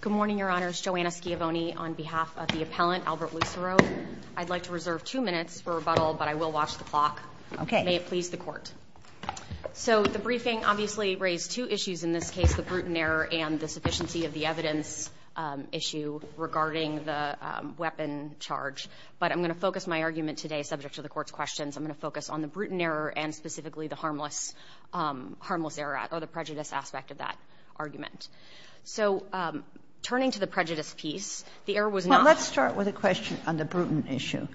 Good morning, your honors. Joanna Schiavone on behalf of the appellant Albert Lucero. I'd like to reserve two minutes for rebuttal But I will watch the clock. Okay, may it please the court So the briefing obviously raised two issues in this case the Bruton error and the sufficiency of the evidence issue regarding the Weapon charge, but I'm going to focus my argument today subject to the court's questions I'm going to focus on the Bruton error and specifically the harmless Harmless error or the prejudice aspect of that argument. So Turning to the prejudice piece the error was not let's start with a question on the Bruton issue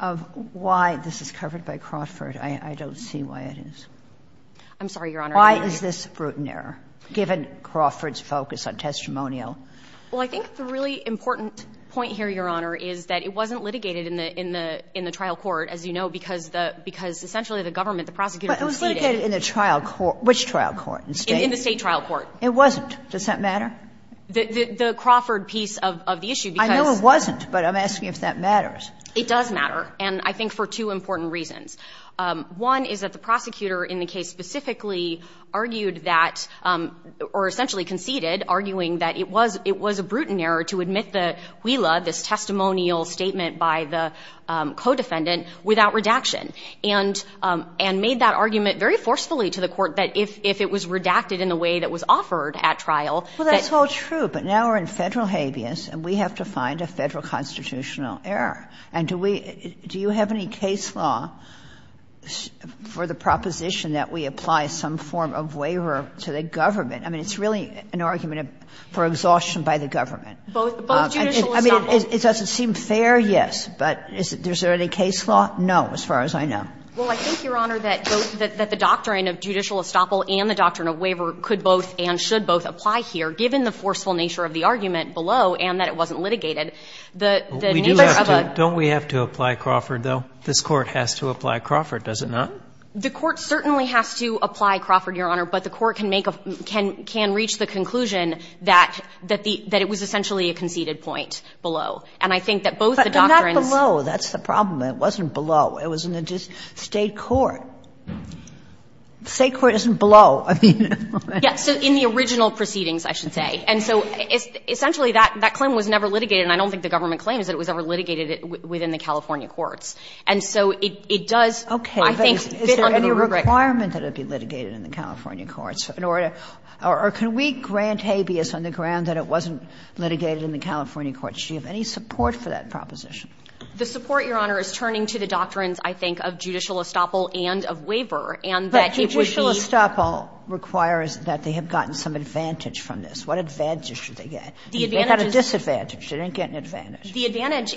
of Why this is covered by Crawford. I don't see why it is I'm sorry, your honor. Why is this Bruton error given Crawford's focus on testimonial? Well, I think the really important point here Your honor is that it wasn't litigated in the in the in the trial court as you know Because the because essentially the government the prosecutor was litigated in a trial court which trial court in the state trial court It wasn't does that matter the the Crawford piece of the issue? I know it wasn't but I'm asking if that matters. It does matter and I think for two important reasons One is that the prosecutor in the case specifically argued that or essentially conceded arguing that it was it was a Bruton error to admit the wheel of this testimonial statement by the Codefendant without redaction and And made that argument very forcefully to the court that if if it was redacted in the way that was offered at trial Well, that's all true. But now we're in federal habeas and we have to find a federal constitutional error And do we do you have any case law? For the proposition that we apply some form of waiver to the government I mean, it's really an argument for exhaustion by the government I mean, it doesn't seem fair. Yes, but is there any case law? No as far as I know well I think your honor that that the doctrine of judicial estoppel and the doctrine of waiver could both and should both apply here given the forceful nature of the Argument below and that it wasn't litigated the Don't we have to apply Crawford though? This court has to apply Crawford Does it not the court certainly has to apply Crawford your honor? But the court can make a can can reach the conclusion that that the that it was essentially a conceded point Below and I think that both the doctrines. Oh, that's the problem. It wasn't below. It was in the just state court State court isn't below Yes in the original proceedings I should say and so Essentially that that claim was never litigated and I don't think the government claims that it was ever litigated it within the California courts And so it does okay I think any requirement that it be litigated in the California courts in order or can we grant habeas on the ground that it wasn't? Litigated in the California courts. Do you have any support for that proposition? The support your honor is turning to the doctrines I think of judicial estoppel and of waiver and that judicial estoppel requires that they have gotten some advantage from this What advantage should they get the advantages advantage didn't get an advantage the advantage?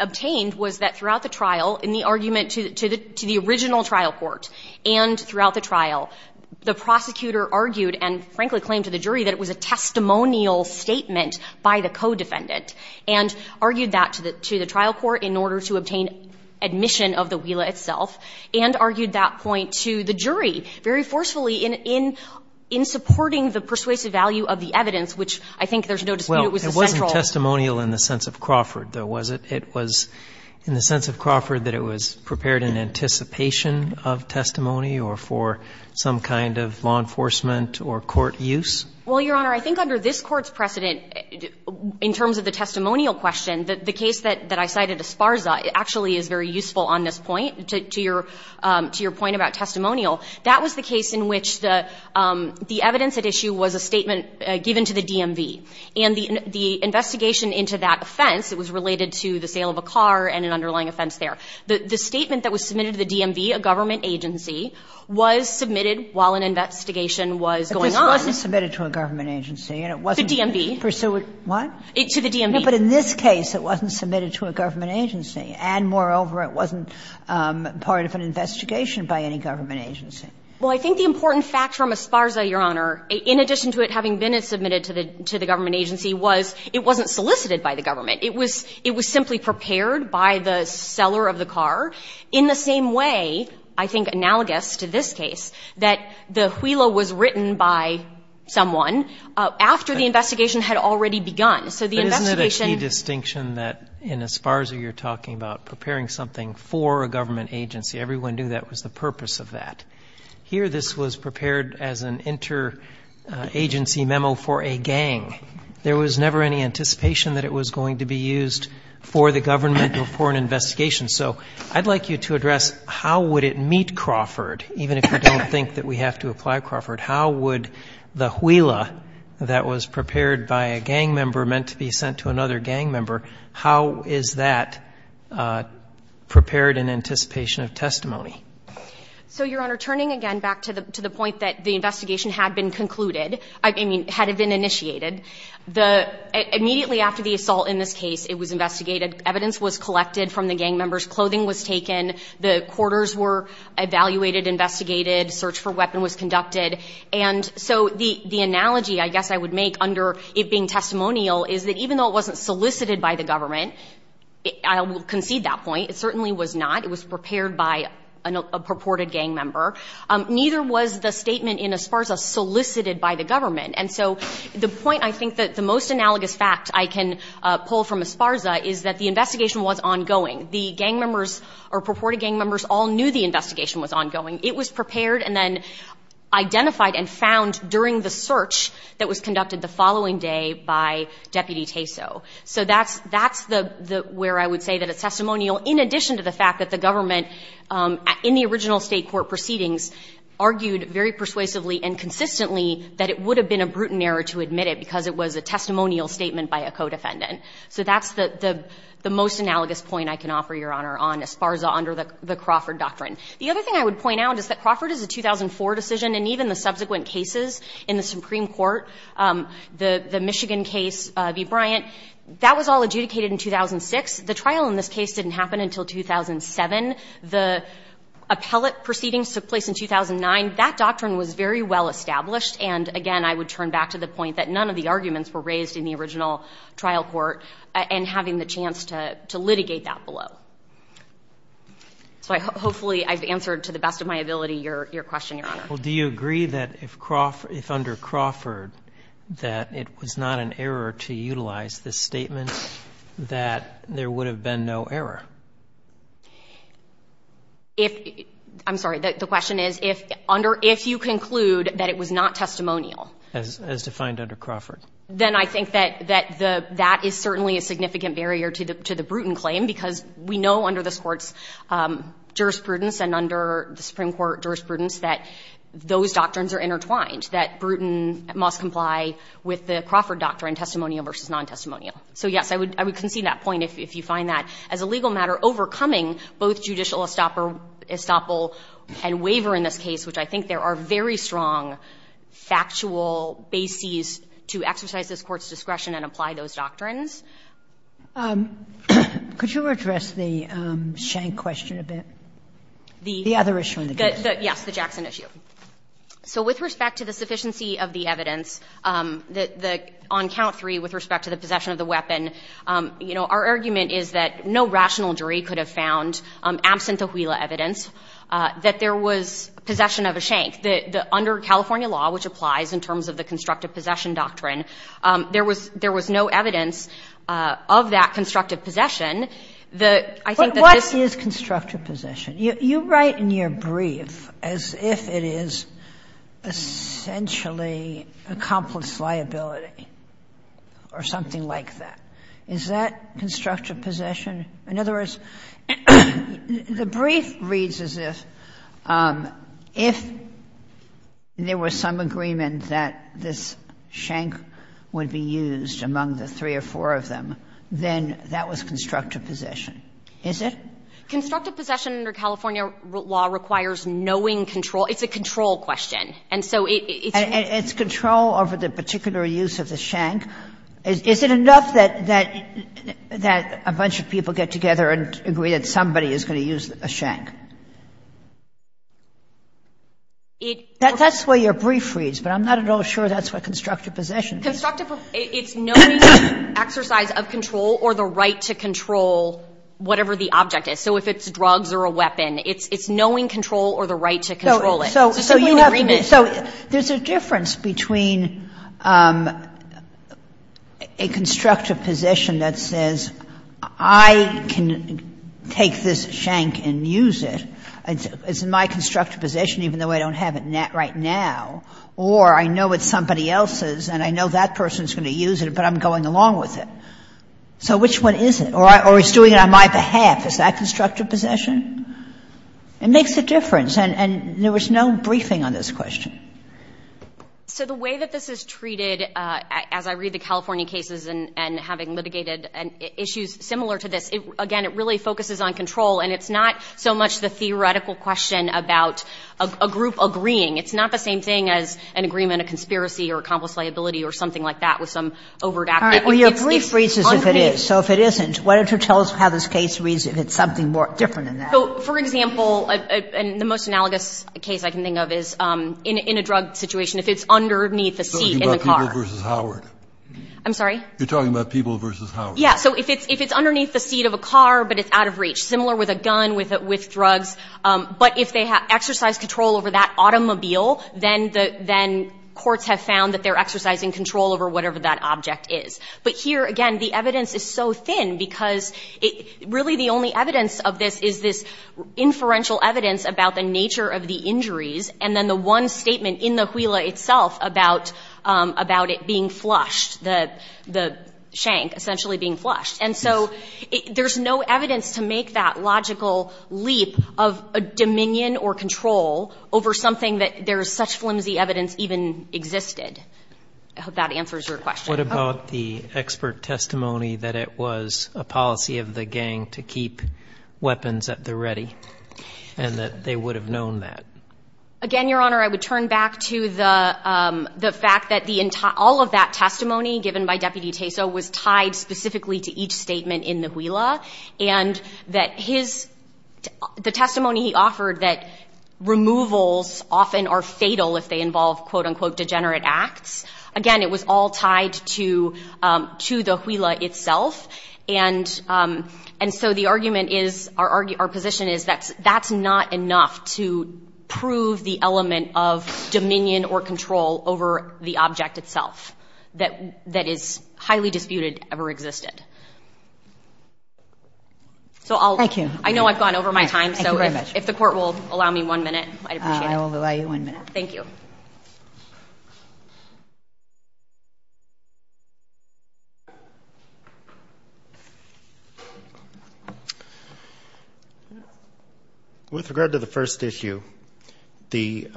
Obtained was that throughout the trial in the argument to the to the original trial court and throughout the trial the prosecutor argued and frankly claimed to the jury that it was a Testimonial statement by the co-defendant and argued that to the to the trial court in order to obtain Admission of the wheel itself and argued that point to the jury very forcefully in in in Supporting the persuasive value of the evidence, which I think there's no Testimonial in the sense of Crawford though was it it was in the sense of Crawford that it was prepared in anticipation of testimony or for Some kind of law enforcement or court use. Well, your honor. I think under this courts precedent In terms of the testimonial question that the case that that I cited as far as I actually is very useful on this point to your to your point about testimonial that was the case in which the The evidence at issue was a statement given to the DMV and the the investigation into that offense It was related to the sale of a car and an underlying offense there But the statement that was submitted to the DMV a government agency was submitted while an investigation was going on It wasn't submitted to a government agency and it was a DMV pursuant what it to the DMV But in this case, it wasn't submitted to a government agency and moreover. It wasn't Part of an investigation by any government agency Well, I think the important fact from as far as I your honor in addition to it having been it submitted to the to the government Agency was it wasn't solicited by the government It was it was simply prepared by the seller of the car in the same way I think analogous to this case that the wheeler was written by someone After the investigation had already begun Distinction that in as far as you're talking about preparing something for a government agency Everyone knew that was the purpose of that here. This was prepared as an inter Agency memo for a gang there was never any anticipation that it was going to be used for the government before an investigation So I'd like you to address how would it meet Crawford even if you don't think that we have to apply Crawford How would the wheeler that was prepared by a gang member meant to be sent to another gang member? How is that? Prepared in anticipation of testimony So your honor turning again back to the to the point that the investigation had been concluded. I mean had it been initiated the Immediately after the assault in this case. It was investigated evidence was collected from the gang members clothing was taken the quarters were Evaluated investigated search for weapon was conducted. And so the the analogy I guess I would make under it being testimonial is that even though it wasn't solicited by the government I will concede that point. It certainly was not it was prepared by a purported gang member Neither was the statement in as far as a solicited by the government And so the point I think that the most analogous fact I can Pull from Esparza is that the investigation was ongoing the gang members or purported gang members all knew the investigation was ongoing it was prepared and then Identified and found during the search that was conducted the following day by deputy Teso So that's that's the the where I would say that it's testimonial in addition to the fact that the government in the original state court proceedings argued very persuasively and So that's the the most analogous point I can offer your honor on Esparza under the the Crawford doctrine The other thing I would point out is that Crawford is a 2004 decision and even the subsequent cases in the Supreme Court the the Michigan case of E Bryant that was all adjudicated in 2006 the trial in this case didn't happen until 2007 the Appellate proceedings took place in 2009 that doctrine was very well established And again, I would turn back to the point that none of the arguments were raised in the original trial court And having the chance to litigate that below So I hopefully I've answered to the best of my ability your question your honor Well, do you agree that if Crawford if under Crawford that it was not an error to utilize this statement? That there would have been no error If I'm sorry The question is if under if you conclude that it was not testimonial as defined under Crawford Then I think that that the that is certainly a significant barrier to the to the Bruton claim because we know under this courts jurisprudence and under the Supreme Court jurisprudence that Those doctrines are intertwined that Bruton must comply with the Crawford doctrine testimonial versus non-testimonial So yes, I would I would concede that point if you find that as a legal matter overcoming both judicial estoppel Estoppel and waiver in this case, which I think there are very strong Factual bases to exercise this court's discretion and apply those doctrines Could you address the shank question a bit The other issue in the case. Yes the Jackson issue So with respect to the sufficiency of the evidence That the on count three with respect to the possession of the weapon, you know Our argument is that no rational jury could have found absent a wheel evidence That there was possession of a shank the under California law which applies in terms of the constructive possession doctrine There was there was no evidence Of that constructive possession the I think this is constructive possession you write in your brief as if it is Essentially accomplished liability or something like that. Is that constructive possession in other words? the brief reads as if if There was some agreement that this shank would be used among the three or four of them Then that was constructive possession. Is it constructive possession under California law requires knowing control? It's a control question. And so it's control over the particular use of the shank. Is it enough that that That a bunch of people get together and agree that somebody is going to use a shank It that's where your brief reads, but I'm not at all sure that's what constructive possession Exercise of control or the right to control Whatever the object is, so if it's drugs or a weapon, it's it's knowing control or the right to control it So so you have so there's a difference between a Constructive position that says I Can take this shank and use it It's my constructive position, even though I don't have it net right now Or I know it's somebody else's and I know that person's going to use it, but I'm going along with it So which one is it or I always doing it on my behalf is that constructive possession It makes a difference and and there was no briefing on this question So the way that this is treated As I read the California cases and and having litigated and issues similar to this again It really focuses on control and it's not so much the theoretical question about a group agreeing It's not the same thing as an agreement a conspiracy or accomplice liability or something like that with some over Your brief reaches if it is so if it isn't what it tells how this case reads if it's something more different than that So for example And the most analogous a case I can think of is in a drug situation if it's underneath the seat in the car I'm sorry, you're talking about people versus how yeah So if it's if it's underneath the seat of a car, but it's out of reach similar with a gun with it with drugs but if they have exercise control over that automobile then the then Courts have found that they're exercising control over whatever that object is but here again, the evidence is so thin because it really the only evidence of this is this inferential evidence about the nature of the injuries and then the one statement in the wheel itself about about it being flushed the the shank essentially being flushed and so There's no evidence to make that logical leap of a dominion or control Over something that there is such flimsy evidence even existed. I hope that answers your question What about the expert testimony that it was a policy of the gang to keep? weapons at the ready and that they would have known that again, your honor, I would turn back to the the fact that the entire of that testimony given by deputy Teso was tied specifically to each statement in the wheel ah and that his the testimony he offered that Removals often are fatal if they involve quote-unquote degenerate acts again. It was all tied to to the wheel itself and and so the argument is our position is that's that's not enough to prove the element of Dominion or control over the object itself that that is highly disputed ever existed So I'll thank you. I know I've gone over my time. So if the court will allow me one minute, I will allow you one minute Thank you With regard to the first issue the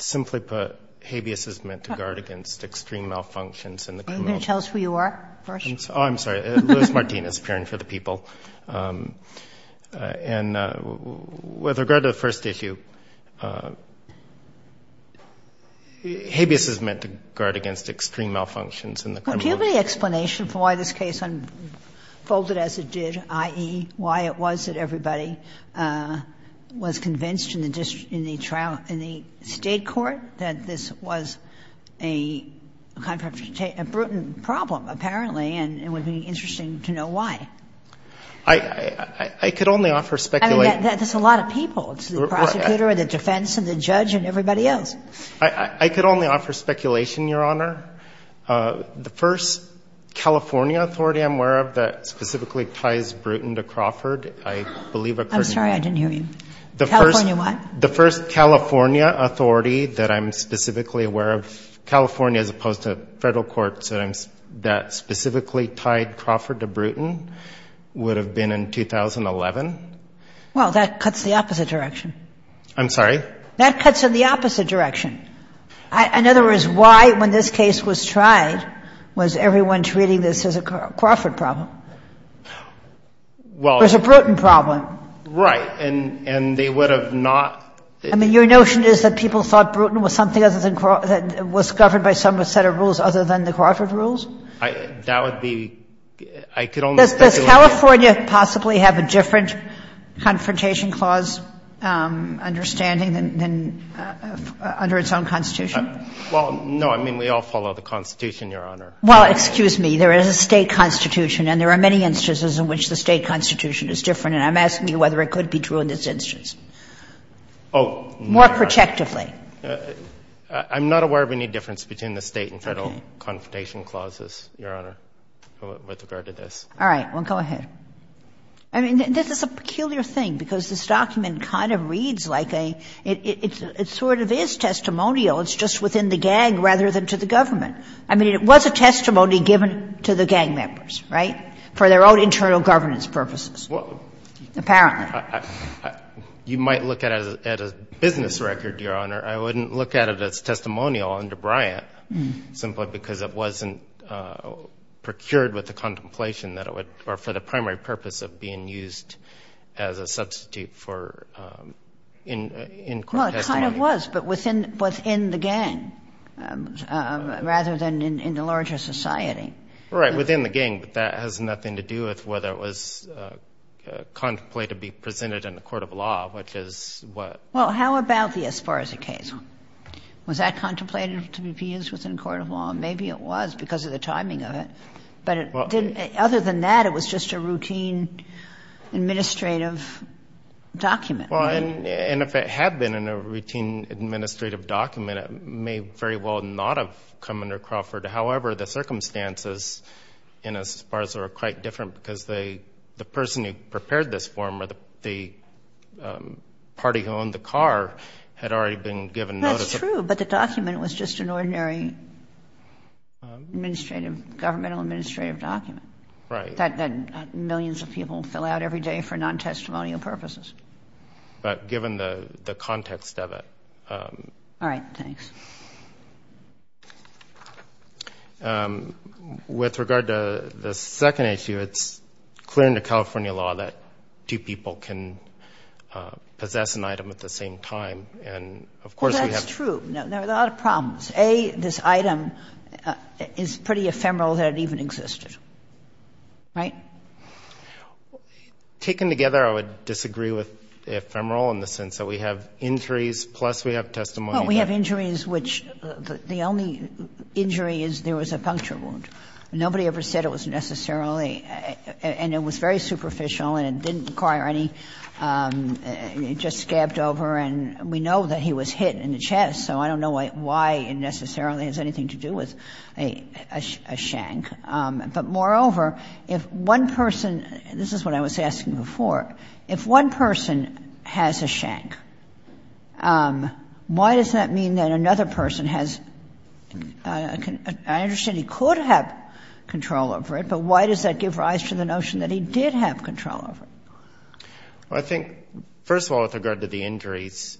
Simply put habeas is meant to guard against extreme malfunctions in the tell us who you are. Oh, I'm sorry It was Martinez appearing for the people And with regard to the first issue Habeas is meant to guard against extreme malfunctions in the community explanation for why this case on Folded as it did ie why it was that everybody Was convinced in the district in the trial in the state court that this was a Contractor to take a Bruton problem apparently and it would be interesting to know why I Could only offer speculate that there's a lot of people It's the prosecutor or the defense and the judge and everybody else. I I could only offer speculation your honor the first California authority, I'm aware of that specifically ties Bruton to Crawford. I believe I'm sorry I didn't hear you the first one the first California authority that I'm specifically aware of California as opposed to federal courts that I'm that specifically tied Crawford to Bruton Would have been in 2011 Well that cuts the opposite direction. I'm sorry that cuts in the opposite direction In other words why when this case was tried was everyone treating this as a Crawford problem Well, there's a Bruton problem right and and they would have not I mean your notion Is that people thought Bruton was something other than Crawford was covered by some a set of rules other than the Crawford rules I that would be I could only California possibly have a different confrontation clause understanding than Under its own constitution. Well, no, I mean we all follow the Constitution your honor. Well, excuse me There is a state constitution and there are many instances in which the state constitution is different And I'm asking you whether it could be true in this instance. Oh more protectively I'm not aware of any difference between the state and federal confrontation clauses your honor With regard to this. All right. Well, go ahead. I Sort of is testimonial it's just within the gang rather than to the government I mean it was a testimony given to the gang members right for their own internal governance purposes apparently You might look at as a business record your honor. I wouldn't look at it as testimonial under Bryant simply because it wasn't procured with the contemplation that it would or for the primary purpose of being used as a substitute for In But within within the gang Rather than in the larger society right within the gang, but that has nothing to do with whether it was Contemplated be presented in the court of law, which is what well, how about the as far as the case? Was that contemplated to be used within court of law? Maybe it was because of the timing of it But it didn't other than that. It was just a routine Administrative Document and if it had been in a routine administrative document, it may very well not have come under Crawford however, the circumstances in as far as there are quite different because they the person who prepared this form or the Party who owned the car had already been given notice true, but the document was just an ordinary Administrative governmental administrative document right that then millions of people fill out every day for non-testimonial purposes But given the the context of it All right. Thanks With regard to the second issue, it's clear in the California law that two people can Possess an item at the same time. And of course, that's true. No, there's a lot of problems a this item Is pretty ephemeral that it even existed right Taken together I would disagree with Ephemeral in the sense that we have injuries plus we have testimony. We have injuries which the only Injury is there was a puncture wound. Nobody ever said it was necessarily And it was very superficial and it didn't require any It just scabbed over and we know that he was hit in the chest so I don't know why it necessarily has anything to do with a Shank, but moreover if one person this is what I was asking before if one person has a shank Why does that mean that another person has Okay, I understand he could have control over it. But why does that give rise to the notion that he did have control of it? Well, I think first of all with regard to the injuries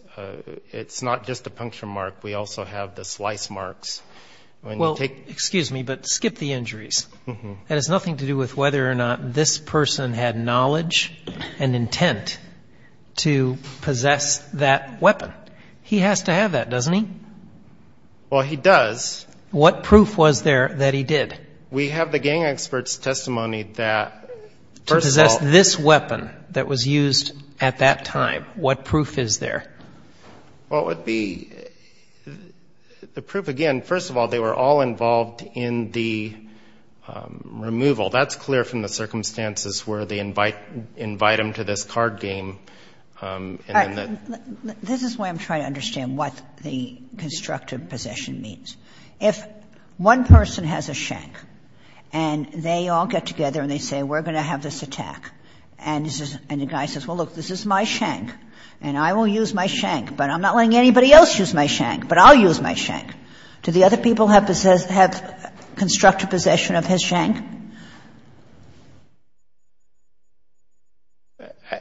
It's not just a puncture mark. We also have the slice marks Well, excuse me, but skip the injuries and it's nothing to do with whether or not this person had knowledge and intent To possess that weapon. He has to have that doesn't he? Well, he does what proof was there that he did we have the gang experts testimony that This weapon that was used at that time what proof is there what would be the proof again, first of all, they were all involved in the Removal that's clear from the circumstances where they invite invite them to this card game This is why I'm trying to understand what the constructive possession means if one person has a shank and They all get together and they say we're gonna have this attack and this is and the guy says well look This is my shank and I will use my shank, but I'm not letting anybody else use my shank But I'll use my shank to the other people have possessed have constructive possession of his shank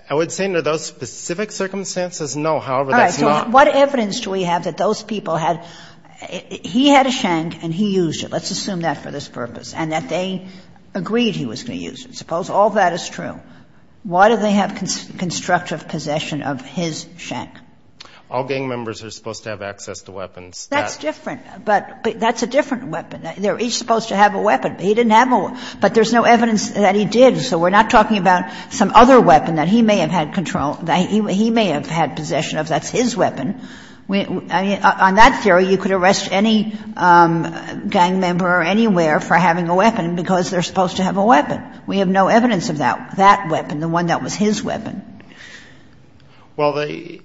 I would say under those specific circumstances. No, however, what evidence do we have that those people had? He had a shank and he used it let's assume that for this purpose and that they Agreed he was going to use it suppose. All that is true. Why do they have constructive possession of his shank? All gang members are supposed to have access to weapons. That's different But that's a different weapon. They're each supposed to have a weapon He didn't have a but there's no evidence that he did So we're not talking about some other weapon that he may have had control that he may have had possession of that's his weapon We on that theory you could arrest any Gang member or anywhere for having a weapon because they're supposed to have a weapon We have no evidence of that that weapon the one that was his weapon well, they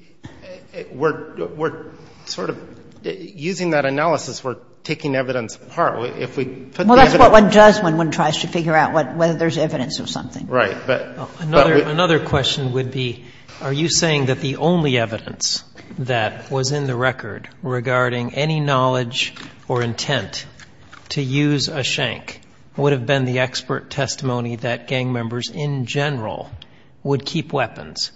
were sort of Using that analysis. We're taking evidence apart if we put that's what one does when one tries to figure out what whether there's evidence or something But another question would be are you saying that the only evidence that was in the record regarding any knowledge or intent To use a shank would have been the expert testimony that gang members in general Would keep weapons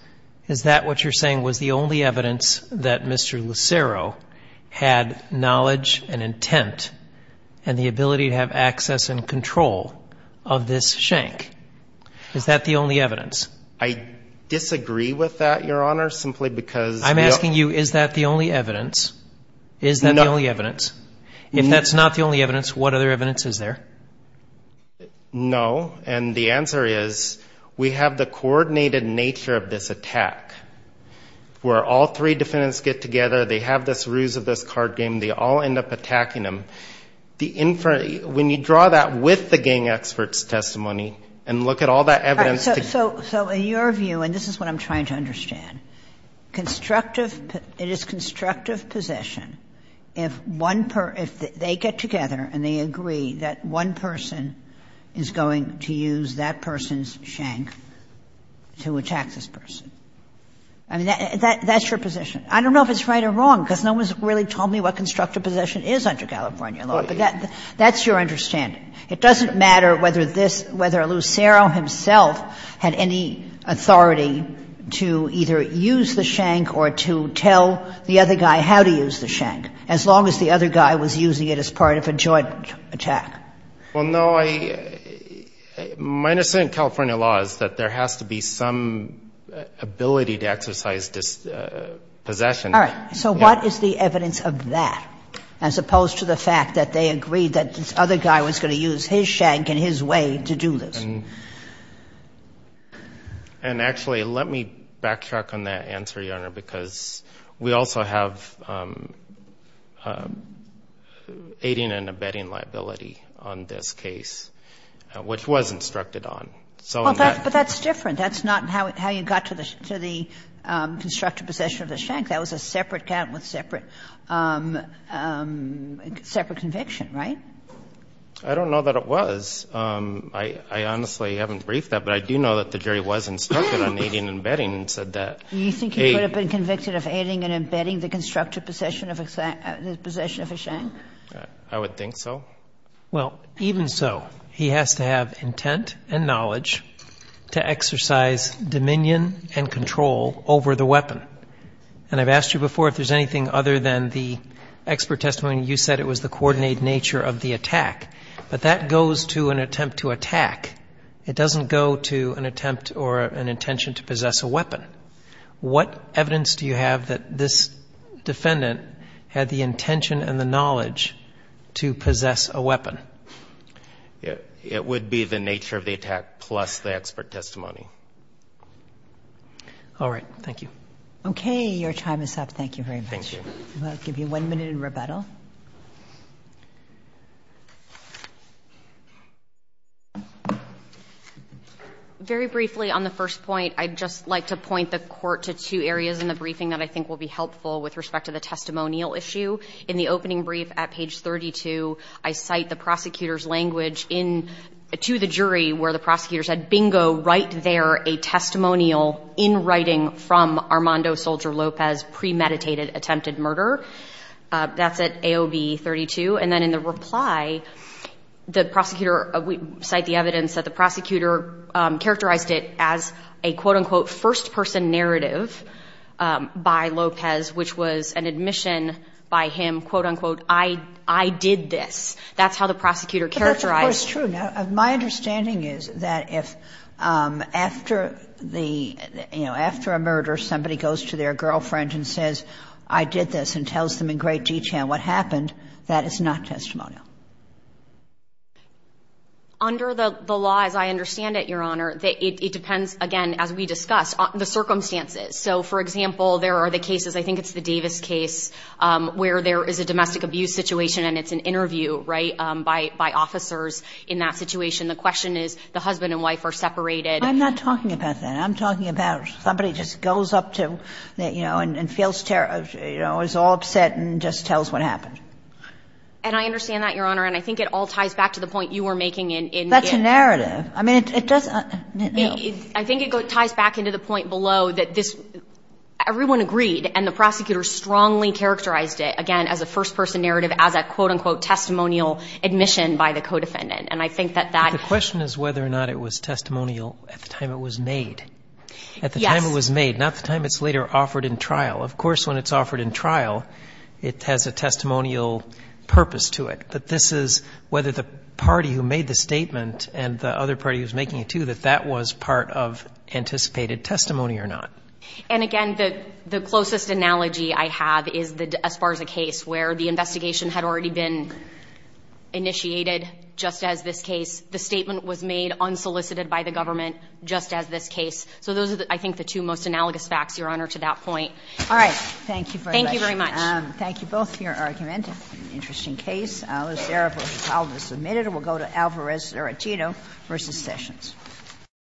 is that what you're saying was the only evidence that mr. Lucero had knowledge and intent and the ability to have access and control of this shank Is that the only evidence I? Disagree with that your honor simply because I'm asking you is that the only evidence is that the only evidence? If that's not the only evidence what other evidence is there? No, and the answer is we have the coordinated nature of this attack Where all three defendants get together they have this ruse of this card game They all end up attacking them the inferior when you draw that with the gang experts testimony and look at all that evidence So so so in your view, and this is what I'm trying to understand Constructive it is constructive possession if one per if they get together and they agree that one person Is going to use that person's shank? to attack this person I Don't know if it's right or wrong because no one's really told me what constructive possession is under California law, but that that's your understanding It doesn't matter whether this whether Lucero himself had any Authority to either use the shank or to tell the other guy how to use the shank as long as the other guy was Using it as part of a joint attack well, no, I Minus in California law is that there has to be some ability to exercise this Possession. All right So what is the evidence of that as opposed to the fact that they agreed that this other guy was going to use his shank? in his way to do this and And actually let me backtrack on that answer your honor because we also have Aiding and abetting liability on this case Which was instructed on so but that's different. That's not how you got to this to the Constructive possession of the shank. That was a separate count with separate Separate conviction, right? I Don't know that it was I Honestly haven't briefed that but I do know that the jury was instructed on aiding and abetting and said that Do you think he would have been convicted of aiding and abetting the constructive possession of exact possession of a shank? I would think so. Well even so he has to have intent and knowledge To exercise Dominion and control over the weapon and I've asked you before if there's anything other than the expert testimony You said it was the coordinate nature of the attack, but that goes to an attempt to attack It doesn't go to an attempt or an intention to possess a weapon What evidence do you have that this? Defendant had the intention and the knowledge to possess a weapon Yeah, it would be the nature of the attack plus the expert testimony All right, thank you. Okay. Your time is up. Thank you very much. I'll give you one minute in rebuttal Very briefly on the first point I'd just like to point the court to two areas in the briefing that I think will be helpful with respect to the 32 I cite the prosecutor's language in To the jury where the prosecutor said bingo right there a testimonial in writing from Armando soldier Lopez premeditated attempted murder That's at AOB 32 and then in the reply The prosecutor we cite the evidence that the prosecutor characterized it as a quote-unquote first-person narrative By Lopez which was an admission by him quote-unquote. I I did this that's how the prosecutor characterized it's true now my understanding is that if after the You know after a murder somebody goes to their girlfriend and says I did this and tells them in great detail what happened That is not testimonial Under the the law as I understand it your honor that it depends again as we discussed on the circumstances So for example, there are the cases. I think it's the Davis case Where there is a domestic abuse situation and it's an interview right by by officers in that situation The question is the husband and wife are separated. I'm not talking about that I'm talking about somebody just goes up to that, you know and feels terror, you know It's all upset and just tells what happened And I understand that your honor and I think it all ties back to the point you were making in that's a narrative I mean it doesn't I Think it goes ties back into the point below that this Everyone agreed and the prosecutor strongly characterized it again as a first-person narrative as a quote-unquote Testimonial admission by the co-defendant and I think that that the question is whether or not it was testimonial at the time It was made at the time. It was made not the time. It's later offered in trial Of course when it's offered in trial, it has a testimonial Purpose to it that this is whether the party who made the statement and the other party was making it to that that was part of Anticipated testimony or not. And again, the the closest analogy I have is the as far as a case where the investigation had already been Initiated just as this case the statement was made unsolicited by the government just as this case So those are the I think the two most analogous facts your honor to that point. All right. Thank you. Thank you very much Thank you both for your argument interesting case Submitted we'll go to Alvarez or a Tito versus sessions